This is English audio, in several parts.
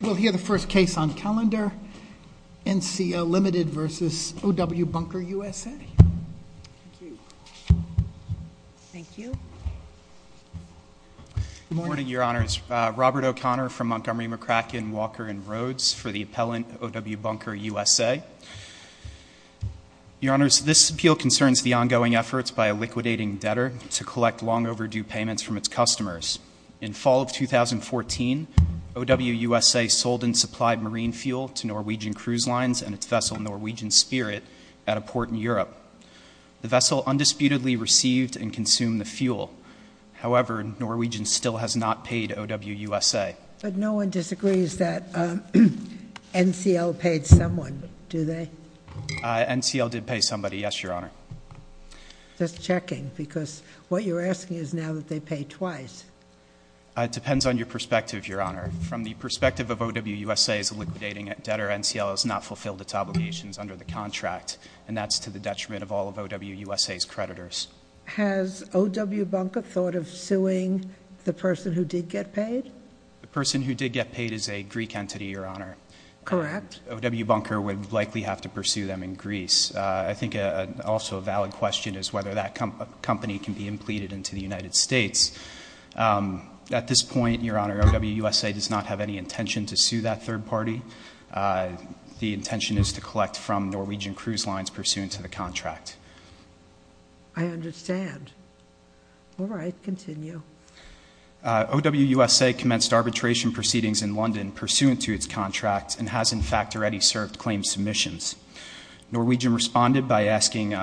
We'll hear the first case on calendar, NCO Ltd. v. O.W. Bunker USA. Thank you. Thank you. Good morning, Your Honors. Robert O'Connor from Montgomery, McCracken, Walker & Rhodes for the appellant, O.W. Bunker USA. Your Honors, this appeal concerns the ongoing efforts by a liquidating debtor to collect long overdue payments from its customers. In fall of 2014, O.W. USA sold and supplied marine fuel to Norwegian Cruise Lines and its vessel Norwegian Spirit at a port in Europe. The vessel undisputedly received and consumed the fuel. However, Norwegian still has not paid O.W. USA. But no one disagrees that NCL paid someone, do they? NCL did pay somebody, yes, Your Honor. Just checking, because what you're asking is now that they paid twice. It depends on your perspective, Your Honor. From the perspective of O.W. USA's liquidating debtor, NCL has not fulfilled its obligations under the contract, and that's to the detriment of all of O.W. USA's creditors. Has O.W. Bunker thought of suing the person who did get paid? The person who did get paid is a Greek entity, Your Honor. Correct. O.W. Bunker would likely have to pursue them in Greece. I think also a valid question is whether that company can be impleted into the United States. At this point, Your Honor, O.W. USA does not have any intention to sue that third party. The intention is to collect from Norwegian Cruise Lines pursuant to the contract. I understand. All right, continue. O.W. USA commenced arbitration proceedings in London pursuant to its contract and has, in fact, already served claim submissions. Norwegian responded by seeking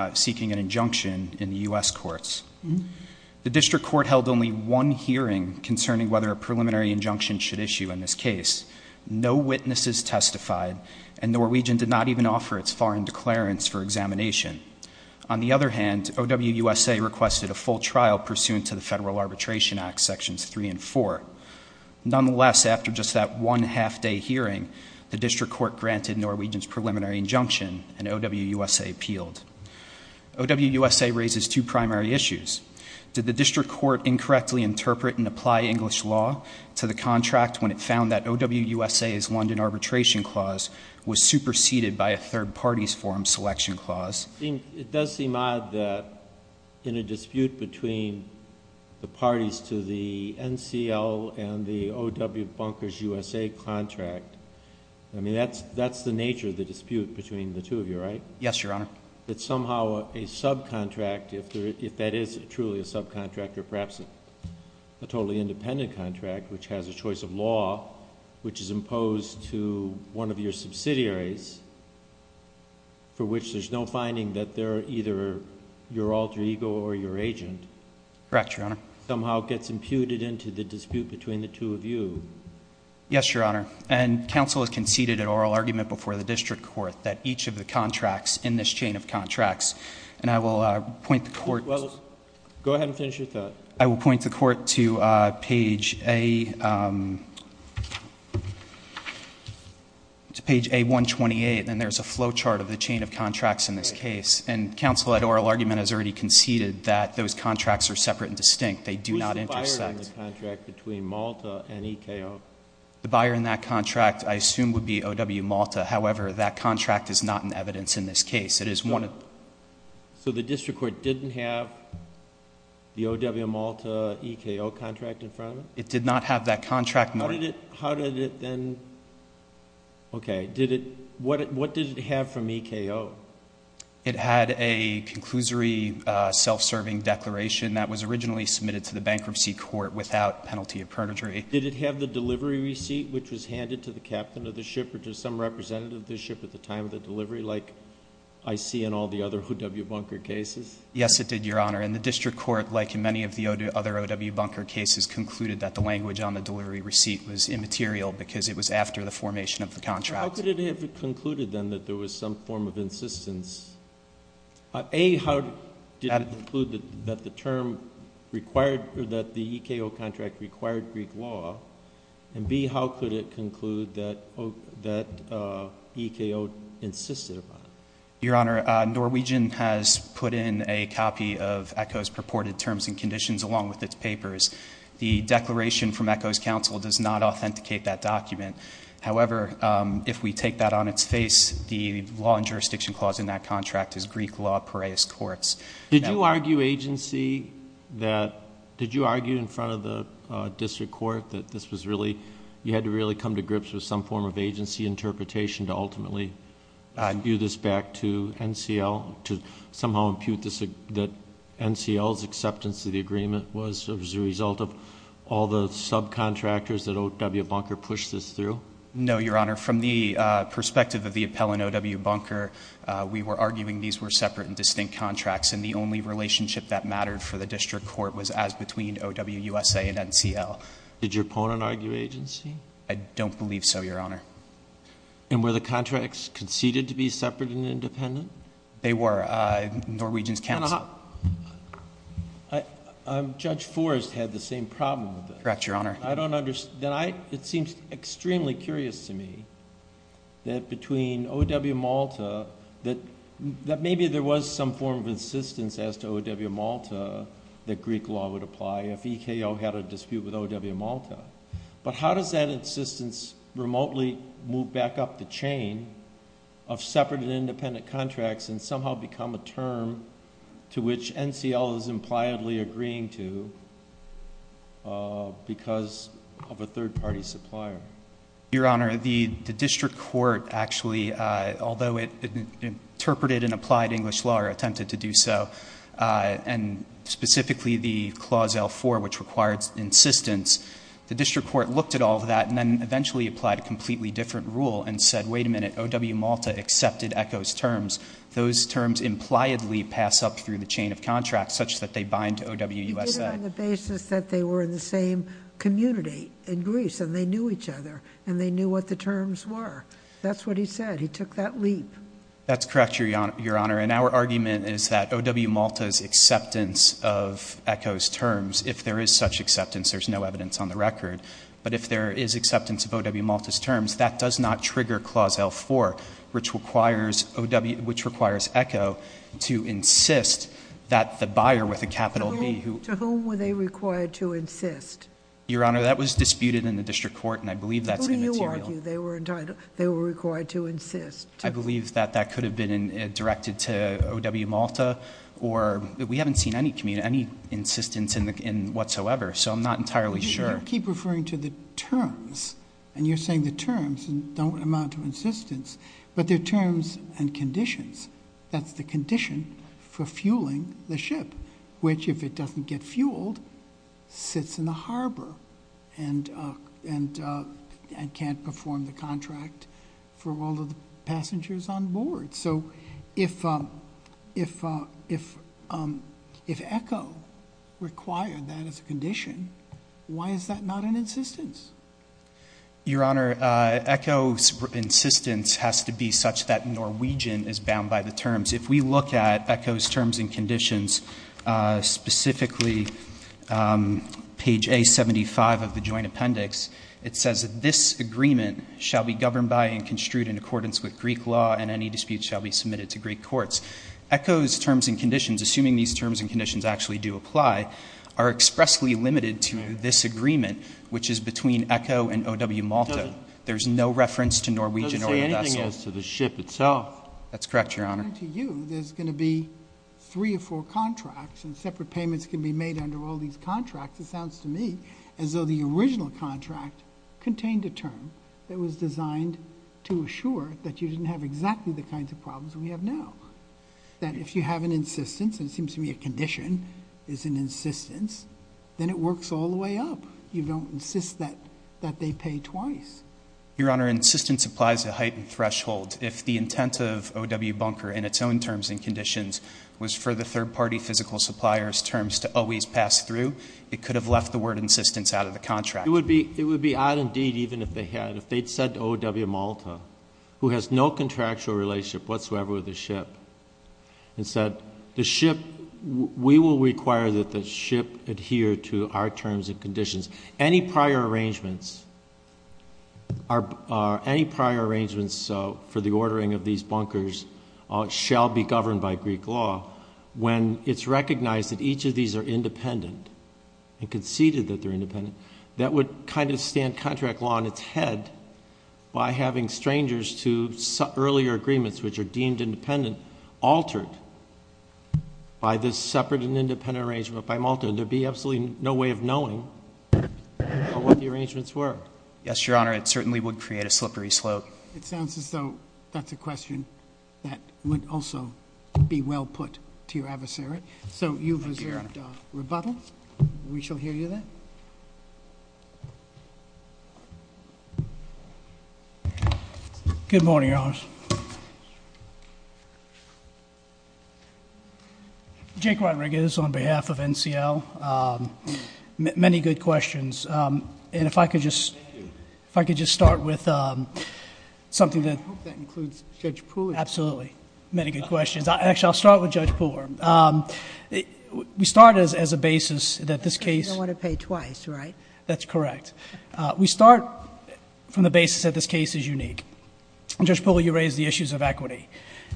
an injunction in the U.S. courts. The district court held only one hearing concerning whether a preliminary injunction should issue in this case. No witnesses testified, and Norwegian did not even offer its foreign declarants for examination. On the other hand, O.W. USA requested a full trial pursuant to the Federal Arbitration Act, Sections 3 and 4. Nonetheless, after just that one half-day hearing, the district court granted Norwegian's preliminary injunction, and O.W. USA appealed. O.W. USA raises two primary issues. Did the district court incorrectly interpret and apply English law to the contract when it found that O.W. USA's London arbitration clause was superseded by a third party's forum selection clause? It does seem odd that in a dispute between the parties to the NCL and the O.W. Bunker's USA contract, I mean, that's the nature of the dispute between the two of you, right? Yes, Your Honor. That somehow a subcontract, if that is truly a subcontract, or perhaps a totally independent contract, which has a choice of law, which is imposed to one of your subsidiaries, for which there's no finding that they're either your alter ego or your agent, Correct, Your Honor. somehow gets imputed into the dispute between the two of you. Yes, Your Honor. And counsel has conceded an oral argument before the district court that each of the contracts in this chain of contracts, and I will point the court to Go ahead and finish your thought. I will point the court to page A128, and there's a flow chart of the chain of contracts in this case, and counsel at oral argument has already conceded that those contracts are separate and distinct. They do not intersect. Was the buyer in the contract between Malta and EKO? The buyer in that contract, I assume, would be O.W. Malta. However, that contract is not in evidence in this case. So the district court didn't have the O.W. Malta, EKO contract in front of it? It did not have that contract nor... How did it then... Okay. What did it have from EKO? It had a conclusory self-serving declaration that was originally submitted to the bankruptcy court without penalty of perjury. Did it have the delivery receipt, which was handed to the captain of the ship or to some representative of the ship at the time of the delivery like I see in all the other O.W. Bunker cases? Yes, it did, Your Honor. And the district court, like in many of the other O.W. Bunker cases, concluded that the language on the delivery receipt was immaterial because it was after the formation of the contract. How could it have concluded then that there was some form of insistence? A, how did it conclude that the term required or that the EKO contract required Greek law? And B, how could it conclude that EKO insisted upon it? Your Honor, Norwegian has put in a copy of EKO's purported terms and conditions along with its papers. The declaration from EKO's counsel does not authenticate that document. However, if we take that on its face, the law and jurisdiction clause in that contract is Greek law parias courts. Did you argue agency that, did you argue in front of the district court that this was really, you had to really come to grips with some form of agency interpretation to ultimately view this back to NCL, to somehow impute that NCL's acceptance of the agreement was as a result of all the subcontractors that O.W. Bunker pushed this through? No, Your Honor. From the perspective of the appellant O.W. Bunker, we were arguing these were separate and distinct contracts. And the only relationship that mattered for the district court was as between O.W. USA and NCL. Did your opponent argue agency? I don't believe so, Your Honor. And were the contracts conceded to be separate and independent? They were. Norwegian's counsel. Judge Forrest had the same problem with it. Correct, Your Honor. Then it seems extremely curious to me that between O.W. Malta, that maybe there was some form of insistence as to O.W. Malta that Greek law would apply if EKO had a dispute with O.W. Malta. But how does that insistence remotely move back up the chain of separate and independent contracts and somehow become a term to which NCL is impliedly agreeing to because of a third-party supplier? Your Honor, the district court actually, although it interpreted and applied English law or attempted to do so, and specifically the Clause L4, which required insistence, the district court looked at all of that and then eventually applied a completely different rule and said, wait a minute, O.W. Malta accepted EKO's terms. Those terms impliedly pass up through the chain of contracts such that they bind to O.W. USA. You did it on the basis that they were in the same community in Greece and they knew each other and they knew what the terms were. That's what he said. He took that leap. That's correct, Your Honor. And our argument is that O.W. Malta's acceptance of EKO's terms, if there is such acceptance, there's no evidence on the record. But if there is acceptance of O.W. Malta's terms, that does not trigger Clause L4, which requires EKO to insist that the buyer with a capital B who— To whom were they required to insist? Your Honor, that was disputed in the district court, and I believe that's immaterial. Who do you argue they were required to insist? I believe that that could have been directed to O.W. Malta. We haven't seen any insistence whatsoever, so I'm not entirely sure. You keep referring to the terms, and you're saying the terms don't amount to insistence, but they're terms and conditions. That's the condition for fueling the ship, which, if it doesn't get fueled, sits in the harbor and can't perform the contract for all of the passengers on board. So if EKO required that as a condition, why is that not an insistence? Your Honor, EKO's insistence has to be such that Norwegian is bound by the terms. If we look at EKO's terms and conditions, specifically page A75 of the Joint Appendix, it says that this agreement shall be governed by and construed in accordance with Greek law, and any dispute shall be submitted to Greek courts. EKO's terms and conditions, assuming these terms and conditions actually do apply, are expressly limited to this agreement, which is between EKO and O.W. Malta. There's no reference to Norwegian or the vessel. It doesn't say anything as to the ship itself. That's correct, Your Honor. According to you, there's going to be three or four contracts, and separate payments can be made under all these contracts. It sounds to me as though the original contract contained a term that was designed to assure that you didn't have exactly the kinds of problems we have now, that if you have an insistence, and it seems to me a condition is an insistence, then it works all the way up. You don't insist that they pay twice. Your Honor, insistence applies a heightened threshold. If the intent of O.W. Bunker in its own terms and conditions was for the third-party physical supplier's terms to always pass through, it could have left the word insistence out of the contract. It would be odd indeed even if they had. If they'd said to O.W. Malta, who has no contractual relationship whatsoever with the ship, and said, we will require that the ship adhere to our terms and conditions. Any prior arrangements for the ordering of these bunkers shall be governed by Greek law when it's recognized that each of these are independent and conceded that they're independent. That would kind of stand contract law on its head by having strangers to earlier agreements which are deemed independent altered by this separate and independent arrangement by Malta. There would be absolutely no way of knowing what the arrangements were. Yes, Your Honor. It certainly would create a slippery slope. It sounds as though that's a question that would also be well put to your adversary. So you've reserved rebuttal. We shall hear you then. Good morning, Your Honor. Jake Rodriguez on behalf of NCL. Many good questions. If I could just start with something that... I hope that includes Judge Pooler. Absolutely. Many good questions. Actually, I'll start with Judge Pooler. We start as a basis that this case... You don't want to pay twice, right? That's correct. We start from the basis that this case is unique. Judge Pooler, you raised the issues of equity.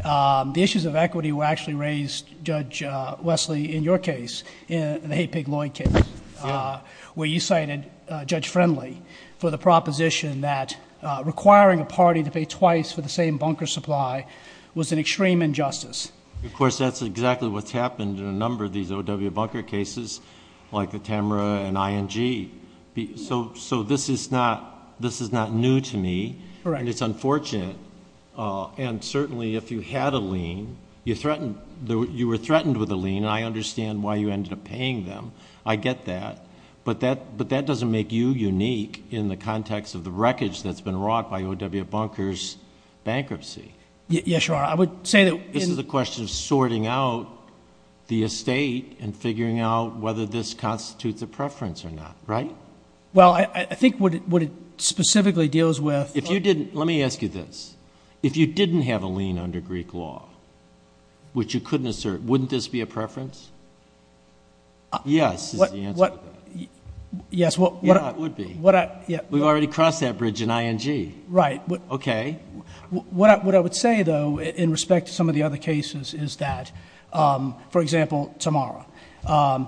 The issues of equity were actually raised, Judge Wesley, in your case, the hay pig loin case. Where you cited Judge Friendly for the proposition that requiring a party to pay twice for the same bunker supply was an extreme injustice. Of course, that's exactly what's happened in a number of these OW bunker cases, like the Tamra and ING. So, this is not new to me. Correct. And it's unfortunate. And certainly, if you had a lien, you were threatened with a lien. And I understand why you ended up paying them. I get that. But that doesn't make you unique in the context of the wreckage that's been wrought by OW bunker's bankruptcy. Yes, Your Honor. I would say that... This is a question of sorting out the estate and figuring out whether this constitutes a preference or not, right? Well, I think what it specifically deals with... Let me ask you this. If you didn't have a lien under Greek law, which you couldn't assert, wouldn't this be a preference? Yes, is the answer to that. Yeah, it would be. We've already crossed that bridge in ING. Right. Okay. What I would say, though, in respect to some of the other cases, is that... For example, Tamra.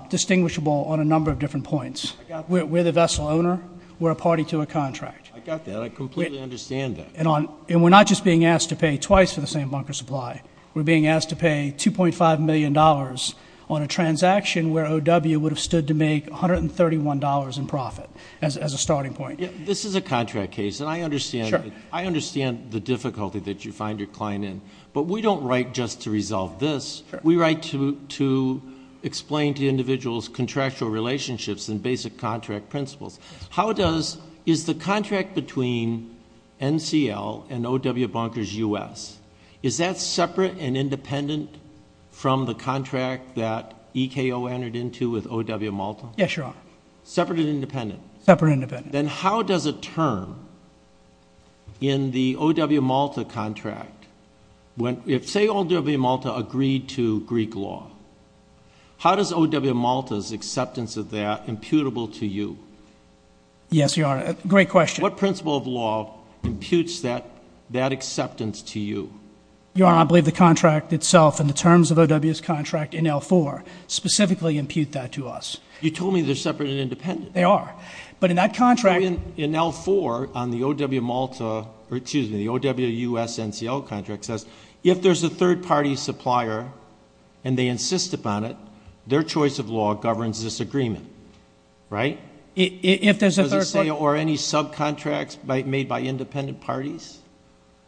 Distinguishable on a number of different points. We're the vessel owner. We're a party to a contract. I got that. I completely understand that. And we're not just being asked to pay twice for the same bunker supply. We're being asked to pay $2.5 million on a transaction where O.W. would have stood to make $131 in profit as a starting point. This is a contract case, and I understand... Sure. I understand the difficulty that you find your client in, but we don't write just to resolve this. Sure. We write to explain to individuals contractual relationships and basic contract principles. How does... Is the contract between NCL and O.W. Bunker's U.S. Is that separate and independent from the contract that EKO entered into with O.W. Malta? Yes, Your Honor. Separate and independent? Separate and independent. Then how does a term in the O.W. Malta contract... Say O.W. Malta agreed to Greek law. How does O.W. Malta's acceptance of that imputable to you? Yes, Your Honor. Great question. What principle of law imputes that acceptance to you? Your Honor, I believe the contract itself and the terms of O.W.'s contract in L-4 specifically impute that to us. You told me they're separate and independent. They are. But in that contract... In L-4 on the O.W. Malta... or, excuse me, the O.W. U.S. NCL contract says, if there's a third-party supplier and they insist upon it, their choice of law governs this agreement, right? If there's a third... Does it say, or any subcontracts made by independent parties?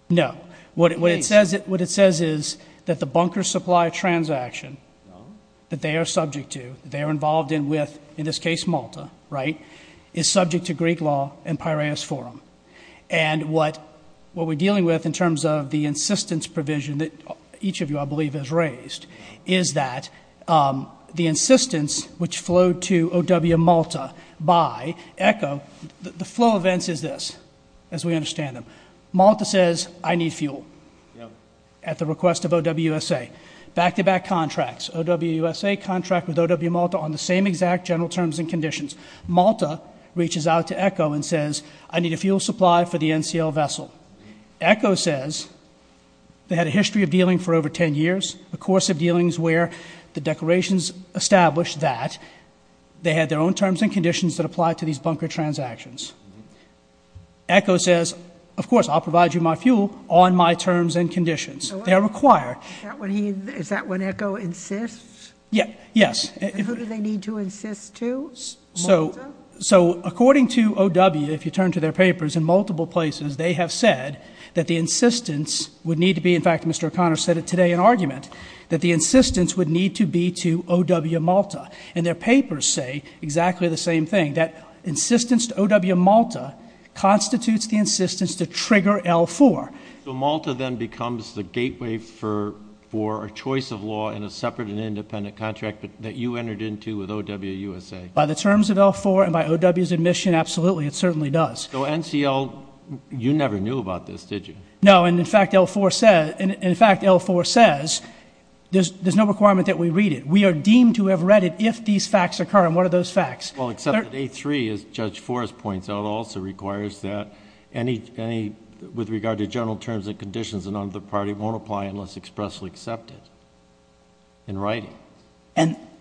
No. What it says is that the bunker supply transaction that they are subject to, that they are involved in with, in this case Malta, right, is subject to Greek law and Piraeus Forum. And what we're dealing with in terms of the insistence provision that each of you, I believe, has raised, is that the insistence which flowed to O.W. Malta by ECHO... The flow of events is this, as we understand them. Malta says, I need fuel at the request of O.W. U.S.A. Back-to-back contracts. O.W. U.S.A. contract with O.W. Malta on the same exact general terms and conditions. Malta reaches out to ECHO and says, I need a fuel supply for the NCL vessel. ECHO says they had a history of dealing for over 10 years, a course of dealings where the declarations established that they had their own terms and conditions that applied to these bunker transactions. ECHO says, of course, I'll provide you my fuel on my terms and conditions. They are required. Is that when ECHO insists? Yes. And who do they need to insist to? Malta? So according to O.W., if you turn to their papers in multiple places, they have said that the insistence would need to be, in fact, Mr. O'Connor said it today in argument, that the insistence would need to be to O.W. Malta. And their papers say exactly the same thing, that insistence to O.W. Malta constitutes the insistence to trigger L-4. So Malta then becomes the gateway for a choice of law in a separate and independent contract that you entered into with O.W. U.S.A. By the terms of L-4 and by O.W.'s admission, absolutely, it certainly does. So NCL, you never knew about this, did you? No, and, in fact, L-4 says there's no requirement that we read it. We are deemed to have read it if these facts occur, and what are those facts? Well, except that A-3, as Judge Forrest points out, also requires that any, with regard to general terms and conditions, none of the party won't apply unless expressly accepted in writing.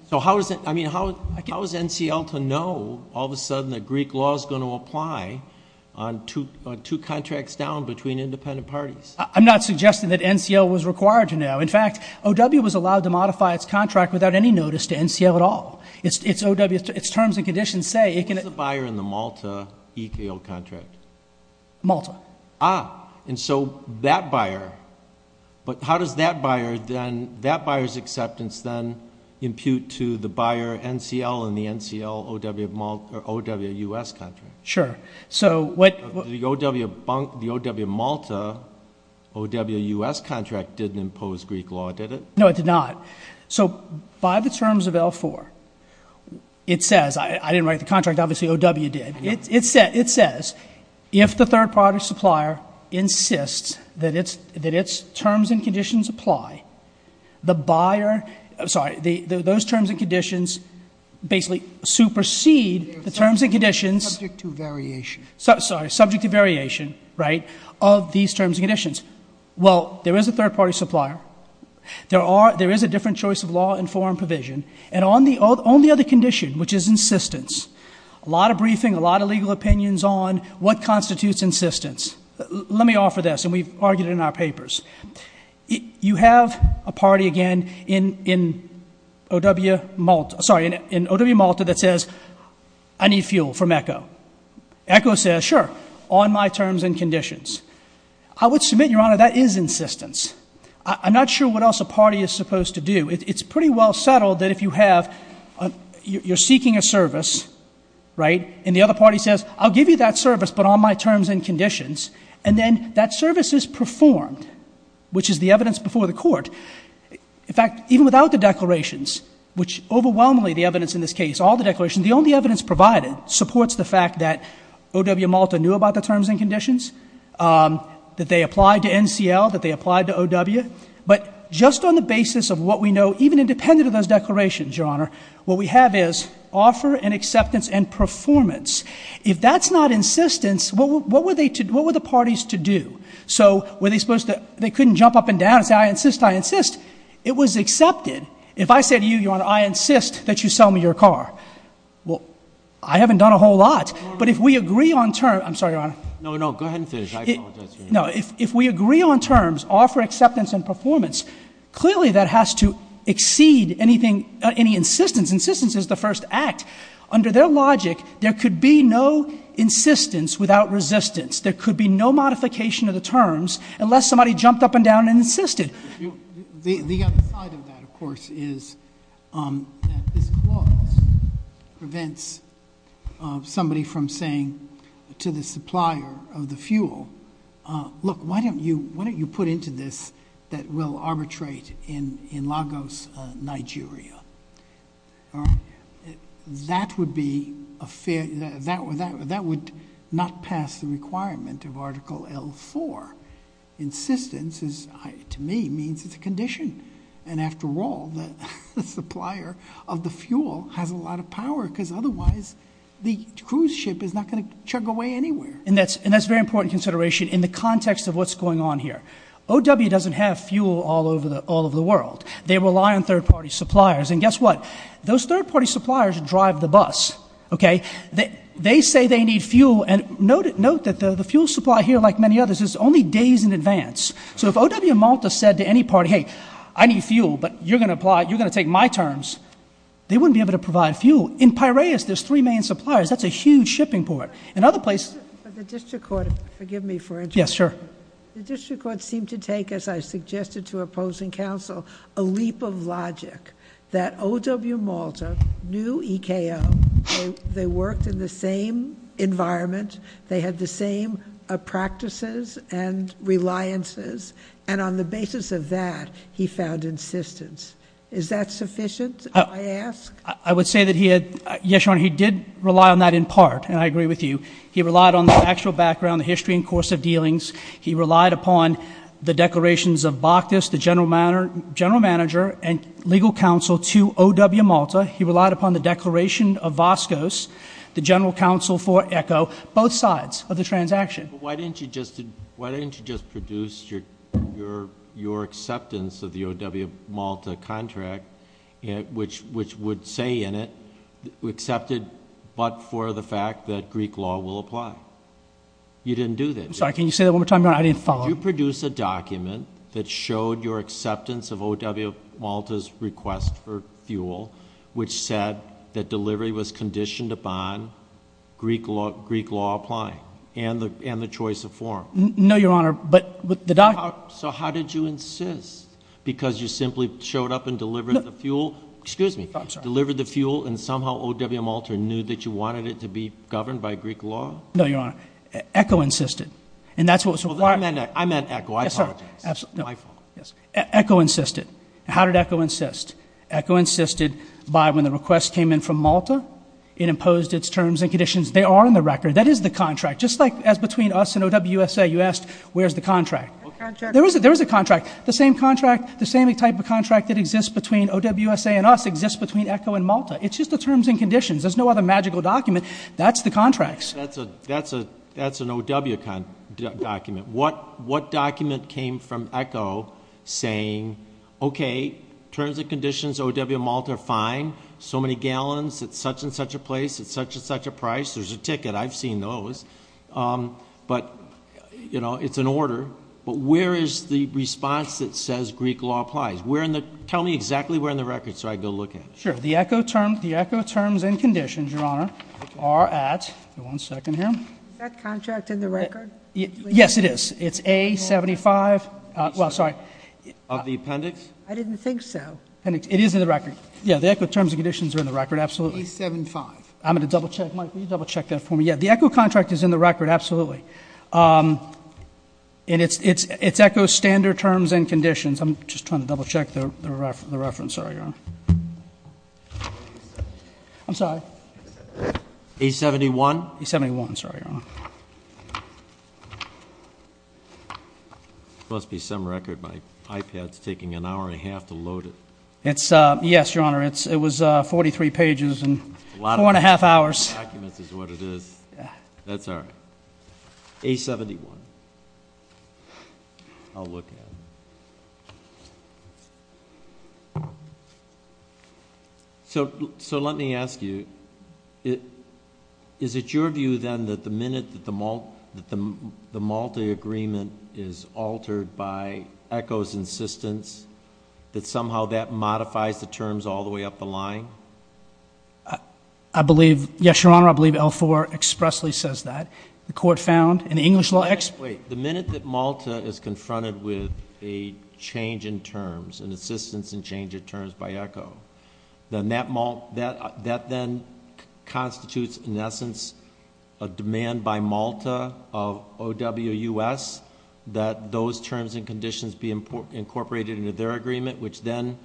So how is it, I mean, how is NCL to know all of a sudden that Greek law is going to apply on two contracts down between independent parties? I'm not suggesting that NCL was required to know. In fact, O.W. was allowed to modify its contract without any notice to NCL at all. Its terms and conditions say it can. Who's the buyer in the Malta EKO contract? Malta. Ah, and so that buyer, but how does that buyer then, that buyer's acceptance then, impute to the buyer NCL in the NCL O.W. Malta, or O.W. U.S. contract? Sure. So what? The O.W. Malta O.W. U.S. contract didn't impose Greek law, did it? No, it did not. So by the terms of L-4, it says, I didn't write the contract, obviously O.W. did, it says if the third-party supplier insists that its terms and conditions apply, the buyer, sorry, those terms and conditions basically supersede the terms and conditions. Subject to variation. Sorry, subject to variation, right, of these terms and conditions. Well, there is a third-party supplier. There is a different choice of law and foreign provision, and on the other condition, which is insistence, a lot of briefing, a lot of legal opinions on what constitutes insistence. Let me offer this, and we've argued it in our papers. You have a party, again, in O.W. Malta, sorry, in O.W. Malta that says, I need fuel from ECHO. ECHO says, sure, on my terms and conditions. I would submit, Your Honor, that is insistence. I'm not sure what else a party is supposed to do. It's pretty well settled that if you have, you're seeking a service, right, and the other party says, I'll give you that service but on my terms and conditions, and then that service is performed, which is the evidence before the court. In fact, even without the declarations, which overwhelmingly the evidence in this case, all the declarations, the only evidence provided supports the fact that O.W. Malta knew about the terms and conditions, that they applied to NCL, that they applied to O.W. Malta, but just on the basis of what we know, even independent of those declarations, Your Honor, what we have is offer and acceptance and performance. If that's not insistence, what were the parties to do? So were they supposed to, they couldn't jump up and down and say, I insist, I insist. It was accepted. If I said to you, Your Honor, I insist that you sell me your car, well, I haven't done a whole lot. But if we agree on terms, I'm sorry, Your Honor. No, no, go ahead and finish. I apologize. No, if we agree on terms, offer acceptance and performance, clearly that has to exceed anything, any insistence. Insistence is the first act. Under their logic, there could be no insistence without resistance. There could be no modification of the terms unless somebody jumped up and down and insisted. The other side of that, of course, is that this clause prevents somebody from saying to the supplier of the fuel, look, why don't you put into this that we'll arbitrate in Lagos, Nigeria? That would not pass the requirement of Article L-4. Insistence, to me, means it's a condition. And after all, the supplier of the fuel has a lot of power because otherwise the cruise ship is not going to chug away anywhere. And that's a very important consideration in the context of what's going on here. O.W. doesn't have fuel all over the world. They rely on third-party suppliers. And guess what? Those third-party suppliers drive the bus, okay? They say they need fuel, and note that the fuel supply here, like many others, is only days in advance. So if O.W. Malta said to any party, hey, I need fuel, but you're going to apply, you're going to take my terms, they wouldn't be able to provide fuel. In Piraeus, there's three main suppliers. That's a huge shipping port. In other places — But the district court — forgive me for interjecting. Yes, sure. The district court seemed to take, as I suggested to opposing counsel, a leap of logic, that O.W. Malta knew EKO, they worked in the same environment, they had the same practices and reliances, and on the basis of that, he found insistence. Is that sufficient, I ask? I would say that he had — yes, Your Honor, he did rely on that in part, and I agree with you. He relied on the factual background, the history and course of dealings. He relied upon the declarations of Bakhtis, the general manager, and legal counsel to O.W. Malta. He relied upon the declaration of Voskos, the general counsel for EKO, both sides of the transaction. But why didn't you just produce your acceptance of the O.W. Malta contract, which would say in it, accepted but for the fact that Greek law will apply? You didn't do that. I'm sorry, can you say that one more time, Your Honor? I didn't follow. Did you produce a document that showed your acceptance of O.W. Malta's request for fuel, which said that delivery was conditioned upon Greek law applying and the choice of form? No, Your Honor, but the document — So how did you insist? Because you simply showed up and delivered the fuel? Excuse me. I'm sorry. Delivered the fuel, and somehow O.W. Malta knew that you wanted it to be governed by Greek law? No, Your Honor. EKO insisted, and that's what was required. I meant EKO. I apologize. It's my fault. EKO insisted. How did EKO insist? EKO insisted by when the request came in from Malta, it imposed its terms and conditions. They are in the record. That is the contract. Just like as between us and O.W. USA, you asked where's the contract. There is a contract. The same contract, the same type of contract that exists between O.W. USA and us exists between EKO and Malta. It's just the terms and conditions. There's no other magical document. That's the contracts. That's an O.W. document. What document came from EKO saying, okay, terms and conditions, O.W. Malta, fine. So many gallons at such and such a place at such and such a price. There's a ticket. I've seen those. But, you know, it's an order. But where is the response that says Greek law applies? Tell me exactly where in the record so I can go look at it. Sure. The EKO terms and conditions, Your Honor, are at, one second here. Is that contract in the record? Yes, it is. It's A75, well, sorry. Of the appendix? I didn't think so. It is in the record. Yeah, the EKO terms and conditions are in the record, absolutely. A75. I'm going to double check. Mike, will you double check that for me? Yeah, the EKO contract is in the record, absolutely. And it's EKO standard terms and conditions. I'm just trying to double check the reference. Sorry, Your Honor. I'm sorry. A71? A71, sorry, Your Honor. It must be some record. My iPad is taking an hour and a half to load it. Yes, Your Honor, it was 43 pages and four and a half hours. Documents is what it is. That's all right. A71. I'll look at it. So let me ask you, is it your view, then, that the minute that the Malta agreement is altered by EKO's insistence that somehow that modifies the terms all the way up the line? I believe, yes, Your Honor, I believe L4 expressly says that. The court found in the English law... Wait, the minute that Malta is confronted with a change in terms, an insistence in change of terms by EKO, that then constitutes, in essence, a demand by Malta of OWUS that those terms and conditions be incorporated into their agreement, which then,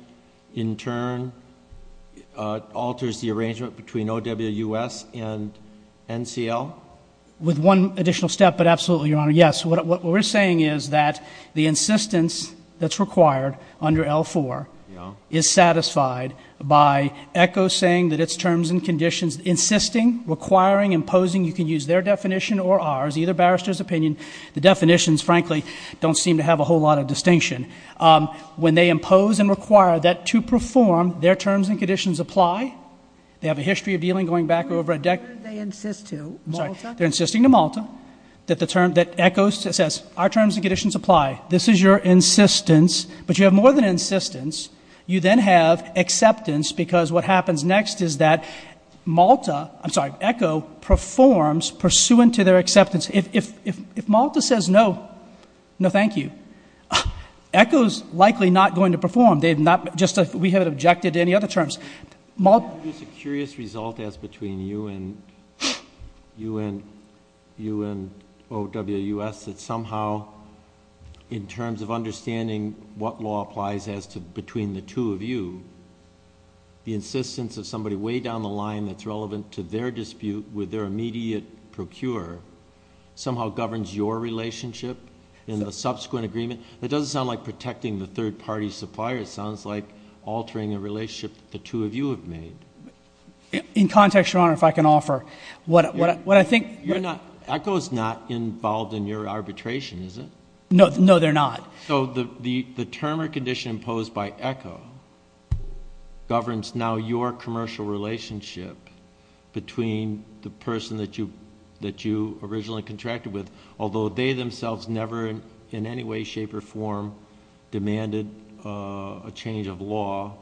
in turn, alters the arrangement between OWUS and NCL? With one additional step, but absolutely, Your Honor, yes. What we're saying is that the insistence that's required under L4 is satisfied by EKO saying that its terms and conditions, insisting, requiring, imposing. You can use their definition or ours, either barrister's opinion. The definitions, frankly, don't seem to have a whole lot of distinction. When they impose and require that to perform, their terms and conditions apply. They have a history of dealing going back over a decade. Who did they insist to? Malta? They're insisting to Malta that EKO says our terms and conditions apply. This is your insistence. But you have more than an insistence. You then have acceptance because what happens next is that Malta... I'm sorry, EKO performs pursuant to their acceptance. If Malta says no, no thank you. EKO is likely not going to perform. They have not... we haven't objected to any other terms. Can I produce a curious result as between you and OWS that somehow in terms of understanding what law applies between the two of you, the insistence of somebody way down the line that's relevant to their dispute with their immediate procure somehow governs your relationship in the subsequent agreement? That doesn't sound like protecting the third-party supplier. It sounds like altering a relationship that the two of you have made. In context, Your Honor, if I can offer. What I think... EKO is not involved in your arbitration, is it? No, they're not. So the term or condition imposed by EKO governs now your commercial relationship between the person that you originally contracted with, although they themselves never in any way, shape, or form demanded a change of law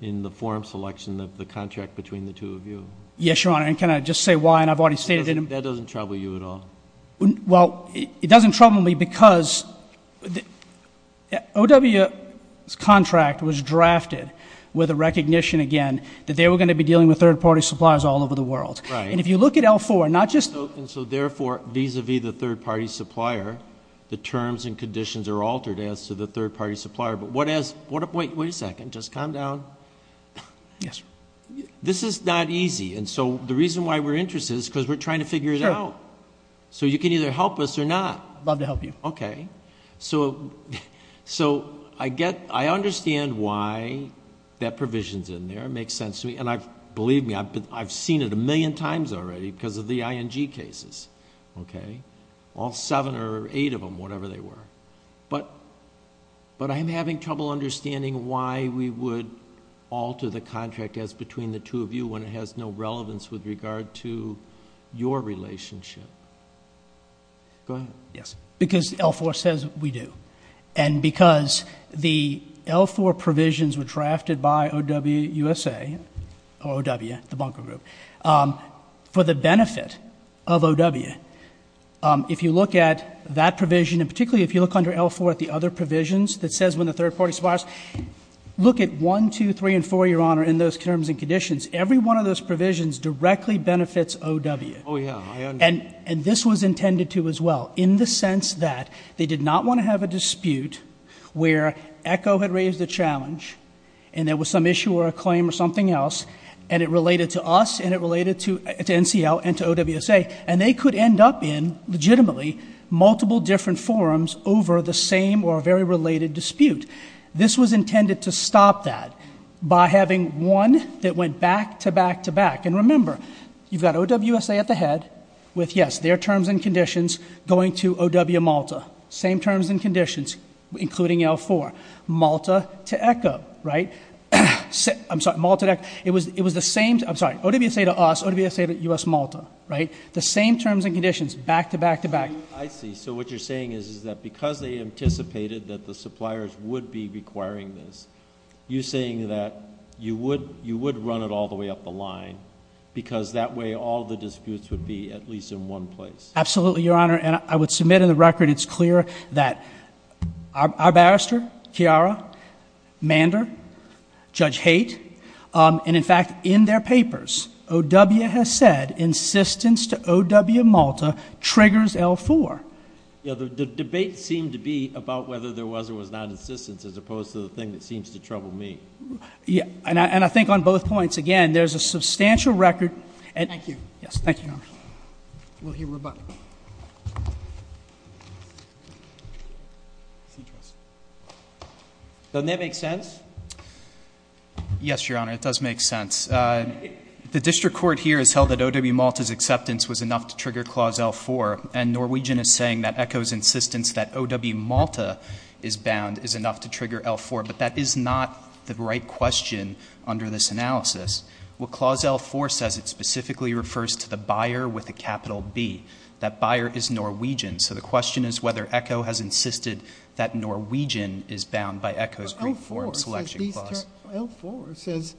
in the form selection of the contract between the two of you. Yes, Your Honor, and can I just say why? And I've already stated... That doesn't trouble you at all. Well, it doesn't trouble me because OWS' contract was drafted with a recognition, again, that they were going to be dealing with third-party suppliers all over the world. And if you look at L4, not just... And so therefore, vis-a-vis the third-party supplier, the terms and conditions are altered as to the third-party supplier. But what has... wait a second. Just calm down. Yes, sir. This is not easy. And so the reason why we're interested is because we're trying to figure it out. Sure. So you can either help us or not. I'd love to help you. Okay. So I understand why that provision's in there. It makes sense to me. And believe me, I've seen it a million times already because of the ING cases. Okay? All seven or eight of them, whatever they were. But I'm having trouble understanding why we would alter the contract as between the two of you when it has no relevance with regard to your relationship. Go ahead. Yes. Because L4 says we do. And because the L4 provisions were drafted by O.W. USA, or O.W., the bunker group, for the benefit of O.W. If you look at that provision, and particularly if you look under L4 at the other provisions that says when the third-party suppliers... Look at 1, 2, 3, and 4, Your Honor, in those terms and conditions. Every one of those provisions directly benefits O.W. Oh, yeah. I understand. And this was intended to as well in the sense that they did not want to have a dispute where ECHO had raised a challenge, and there was some issue or a claim or something else, and it related to us, and it related to NCL and to O.W. USA, and they could end up in, legitimately, multiple different forums over the same or very related dispute. This was intended to stop that by having one that went back to back to back. And remember, you've got O.W. USA at the head with, yes, their terms and conditions going to O.W. Malta. Same terms and conditions, including L4. Malta to ECHO, right? I'm sorry. Malta to ECHO. It was the same. I'm sorry. O.W. USA to us. O.W. USA to U.S. Malta, right? The same terms and conditions, back to back to back. I see. So what you're saying is that because they anticipated that the suppliers would be requiring this, you're saying that you would run it all the way up the line because that way all the disputes would be at least in one place. Absolutely, Your Honor. And I would submit in the record it's clear that our barrister, Chiara, Mander, Judge Haight, and, in fact, in their papers, O.W. has said insistence to O.W. Malta triggers L4. Yeah. The debate seemed to be about whether there was or was not insistence as opposed to the thing that seems to trouble me. Yeah. And I think on both points, again, there's a substantial record. Thank you. Yes. Thank you, Your Honor. We'll hear rebuttal. Doesn't that make sense? Yes, Your Honor, it does make sense. The district court here has held that O.W. Malta's acceptance was enough to trigger Clause L4, and Norwegian is saying that echoes insistence that O.W. Malta is bound is enough to trigger L4. But that is not the right question under this analysis. Well, Clause L4 says it specifically refers to the buyer with a capital B. That buyer is Norwegian. So the question is whether ECHO has insisted that Norwegian is bound by ECHO's green form selection clause. L4 says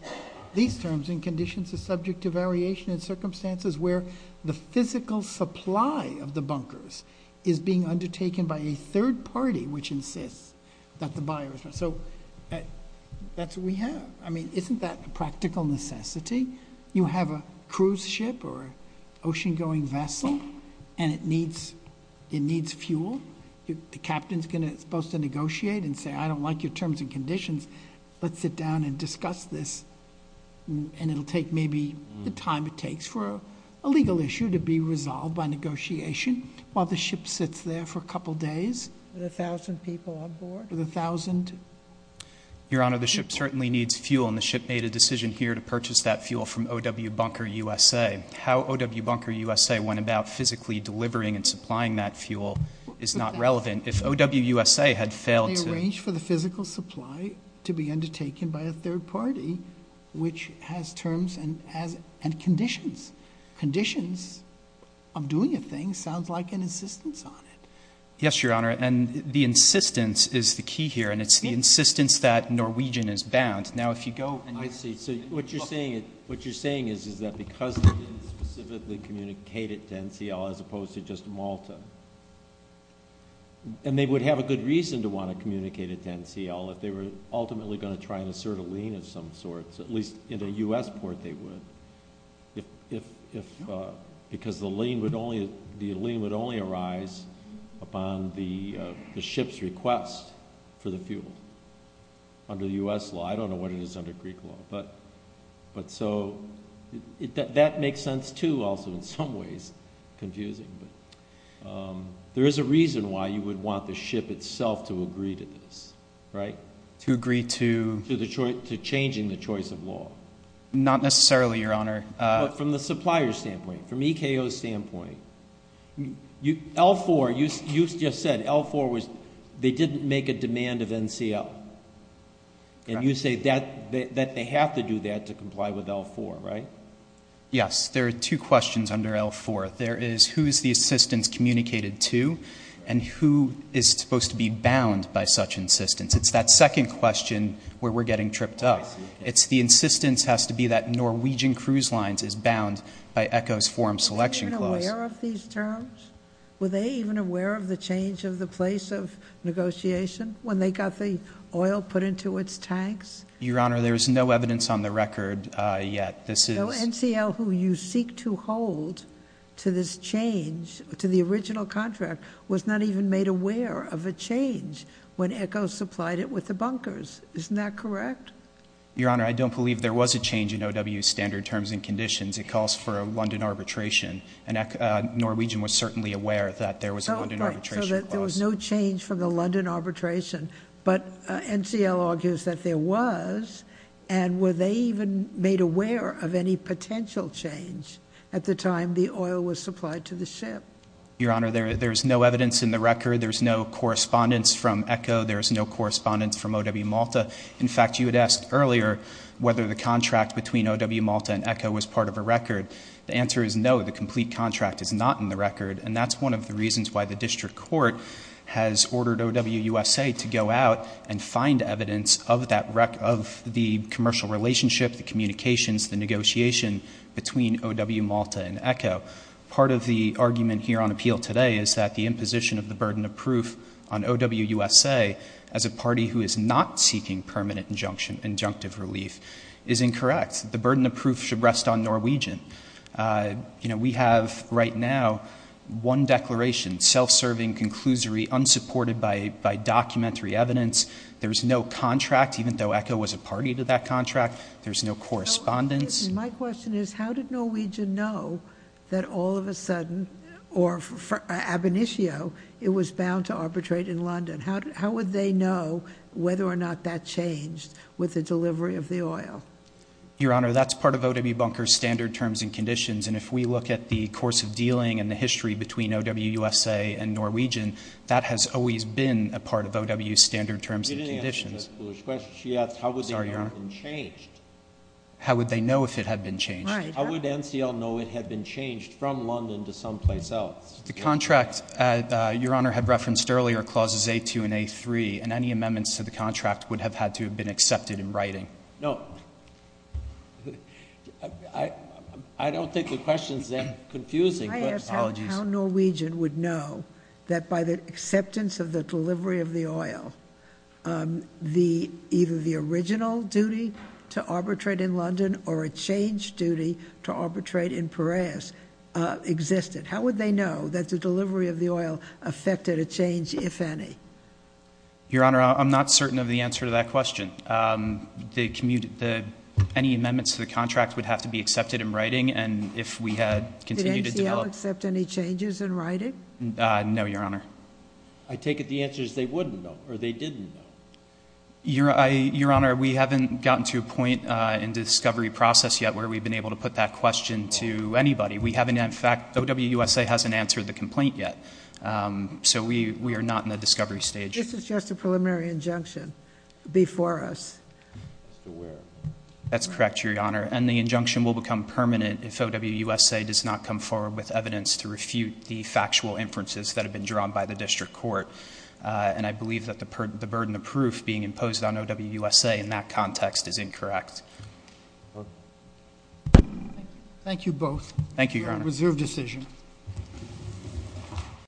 these terms and conditions are subject to variation in circumstances where the physical supply of the bunkers is being undertaken by a third party which insists that the buyer is bound. So that's what we have. I mean, isn't that a practical necessity? You have a cruise ship or an ocean-going vessel and it needs fuel. The captain is supposed to negotiate and say, I don't like your terms and conditions. Let's sit down and discuss this, and it will take maybe the time it takes for a legal issue to be resolved by negotiation while the ship sits there for a couple of days. With 1,000 people on board? With 1,000. Your Honor, the ship certainly needs fuel, and the ship made a decision here to purchase that fuel from O.W. Bunker USA. How O.W. Bunker USA went about physically delivering and supplying that fuel is not relevant. If O.W. USA had failed to ---- They arranged for the physical supply to be undertaken by a third party which has terms and conditions. Conditions of doing a thing sounds like an insistence on it. Yes, Your Honor, and the insistence is the key here, and it's the insistence that Norwegian is bound. Now, if you go and ---- I see. So what you're saying is that because they didn't specifically communicate it to NCL as opposed to just Malta, and they would have a good reason to want to communicate it to NCL if they were ultimately going to try and assert a lien of some sort, at least in a U.S. port they would, because the lien would only arise upon the ship's request for the fuel to be refueled under U.S. law. I don't know what it is under Greek law, but so that makes sense too also in some ways, confusing, but there is a reason why you would want the ship itself to agree to this, right? To agree to ---- To changing the choice of law. Not necessarily, Your Honor. But from the supplier's standpoint, from EKO's standpoint, L4, you just said L4 was, they didn't make a demand of NCL. Correct. And you say that they have to do that to comply with L4, right? Yes. There are two questions under L4. There is who is the assistance communicated to and who is supposed to be bound by such insistence. It's that second question where we're getting tripped up. I see. It's the insistence has to be that Norwegian Cruise Lines is bound by EKO's Forum Selection Clause. Were they even aware of these terms? Were they even aware of the change of the place of negotiation when they got the oil put into its tanks? Your Honor, there is no evidence on the record yet. NCL, who you seek to hold to this change, to the original contract, was not even made aware of a change when EKO supplied it with the bunkers. Isn't that correct? Your Honor, I don't believe there was a change in OW's standard terms and conditions. It calls for a London arbitration. Norwegian was certainly aware that there was a London arbitration clause. There was no change from the London arbitration, but NCL argues that there was. Were they even made aware of any potential change at the time the oil was supplied to the ship? Your Honor, there is no evidence in the record. There is no correspondence from EKO. There is no correspondence from OW Malta. In fact, you had asked earlier whether the contract between OW Malta and EKO was part of a record. The answer is no. The complete contract is not in the record, and that's one of the reasons why the district court has ordered OW USA to go out and find evidence of the commercial relationship, the communications, the negotiation between OW Malta and EKO. Part of the argument here on appeal today is that the imposition of the burden of proof on OW USA as a party who is not seeking permanent injunctive relief is incorrect. The burden of proof should rest on Norwegian. You know, we have right now one declaration, self-serving, conclusory, unsupported by documentary evidence. There's no contract, even though EKO was a party to that contract. There's no correspondence. My question is, how did Norwegian know that all of a sudden, or Ab initio, it was bound to arbitrate in London? How would they know whether or not that changed with the delivery of the oil? Your Honor, that's part of OW Bunker's standard terms and conditions, and if we look at the course of dealing and the history between OW USA and Norwegian, that has always been a part of OW's standard terms and conditions. She didn't answer that foolish question. She asked how would they know if it had been changed. How would they know if it had been changed? How would NCL know it had been changed from London to someplace else? The contract, Your Honor, had referenced earlier clauses A2 and A3, and any amendments to the contract would have had to have been accepted in writing. No, I don't think the question is that confusing. Can I ask how Norwegian would know that by the acceptance of the delivery of the oil, either the original duty to arbitrate in London or a changed duty to arbitrate in Piraeus existed? How would they know that the delivery of the oil affected a change, if any? Your Honor, I'm not certain of the answer to that question. Any amendments to the contract would have to be accepted in writing, and if we had continued to develop. Did NCL accept any changes in writing? No, Your Honor. I take it the answer is they wouldn't know, or they didn't know. Your Honor, we haven't gotten to a point in the discovery process yet where we've been able to put that question to anybody. We haven't, in fact, OW USA hasn't answered the complaint yet, so we are not in the discovery stage. This is just a preliminary injunction before us. That's correct, Your Honor, and the injunction will become permanent if OW USA does not come forward with evidence to refute the factual inferences that have been drawn by the district court, and I believe that the burden of proof being imposed on OW USA in that context is incorrect. Thank you both. Thank you, Your Honor. Reserve decision.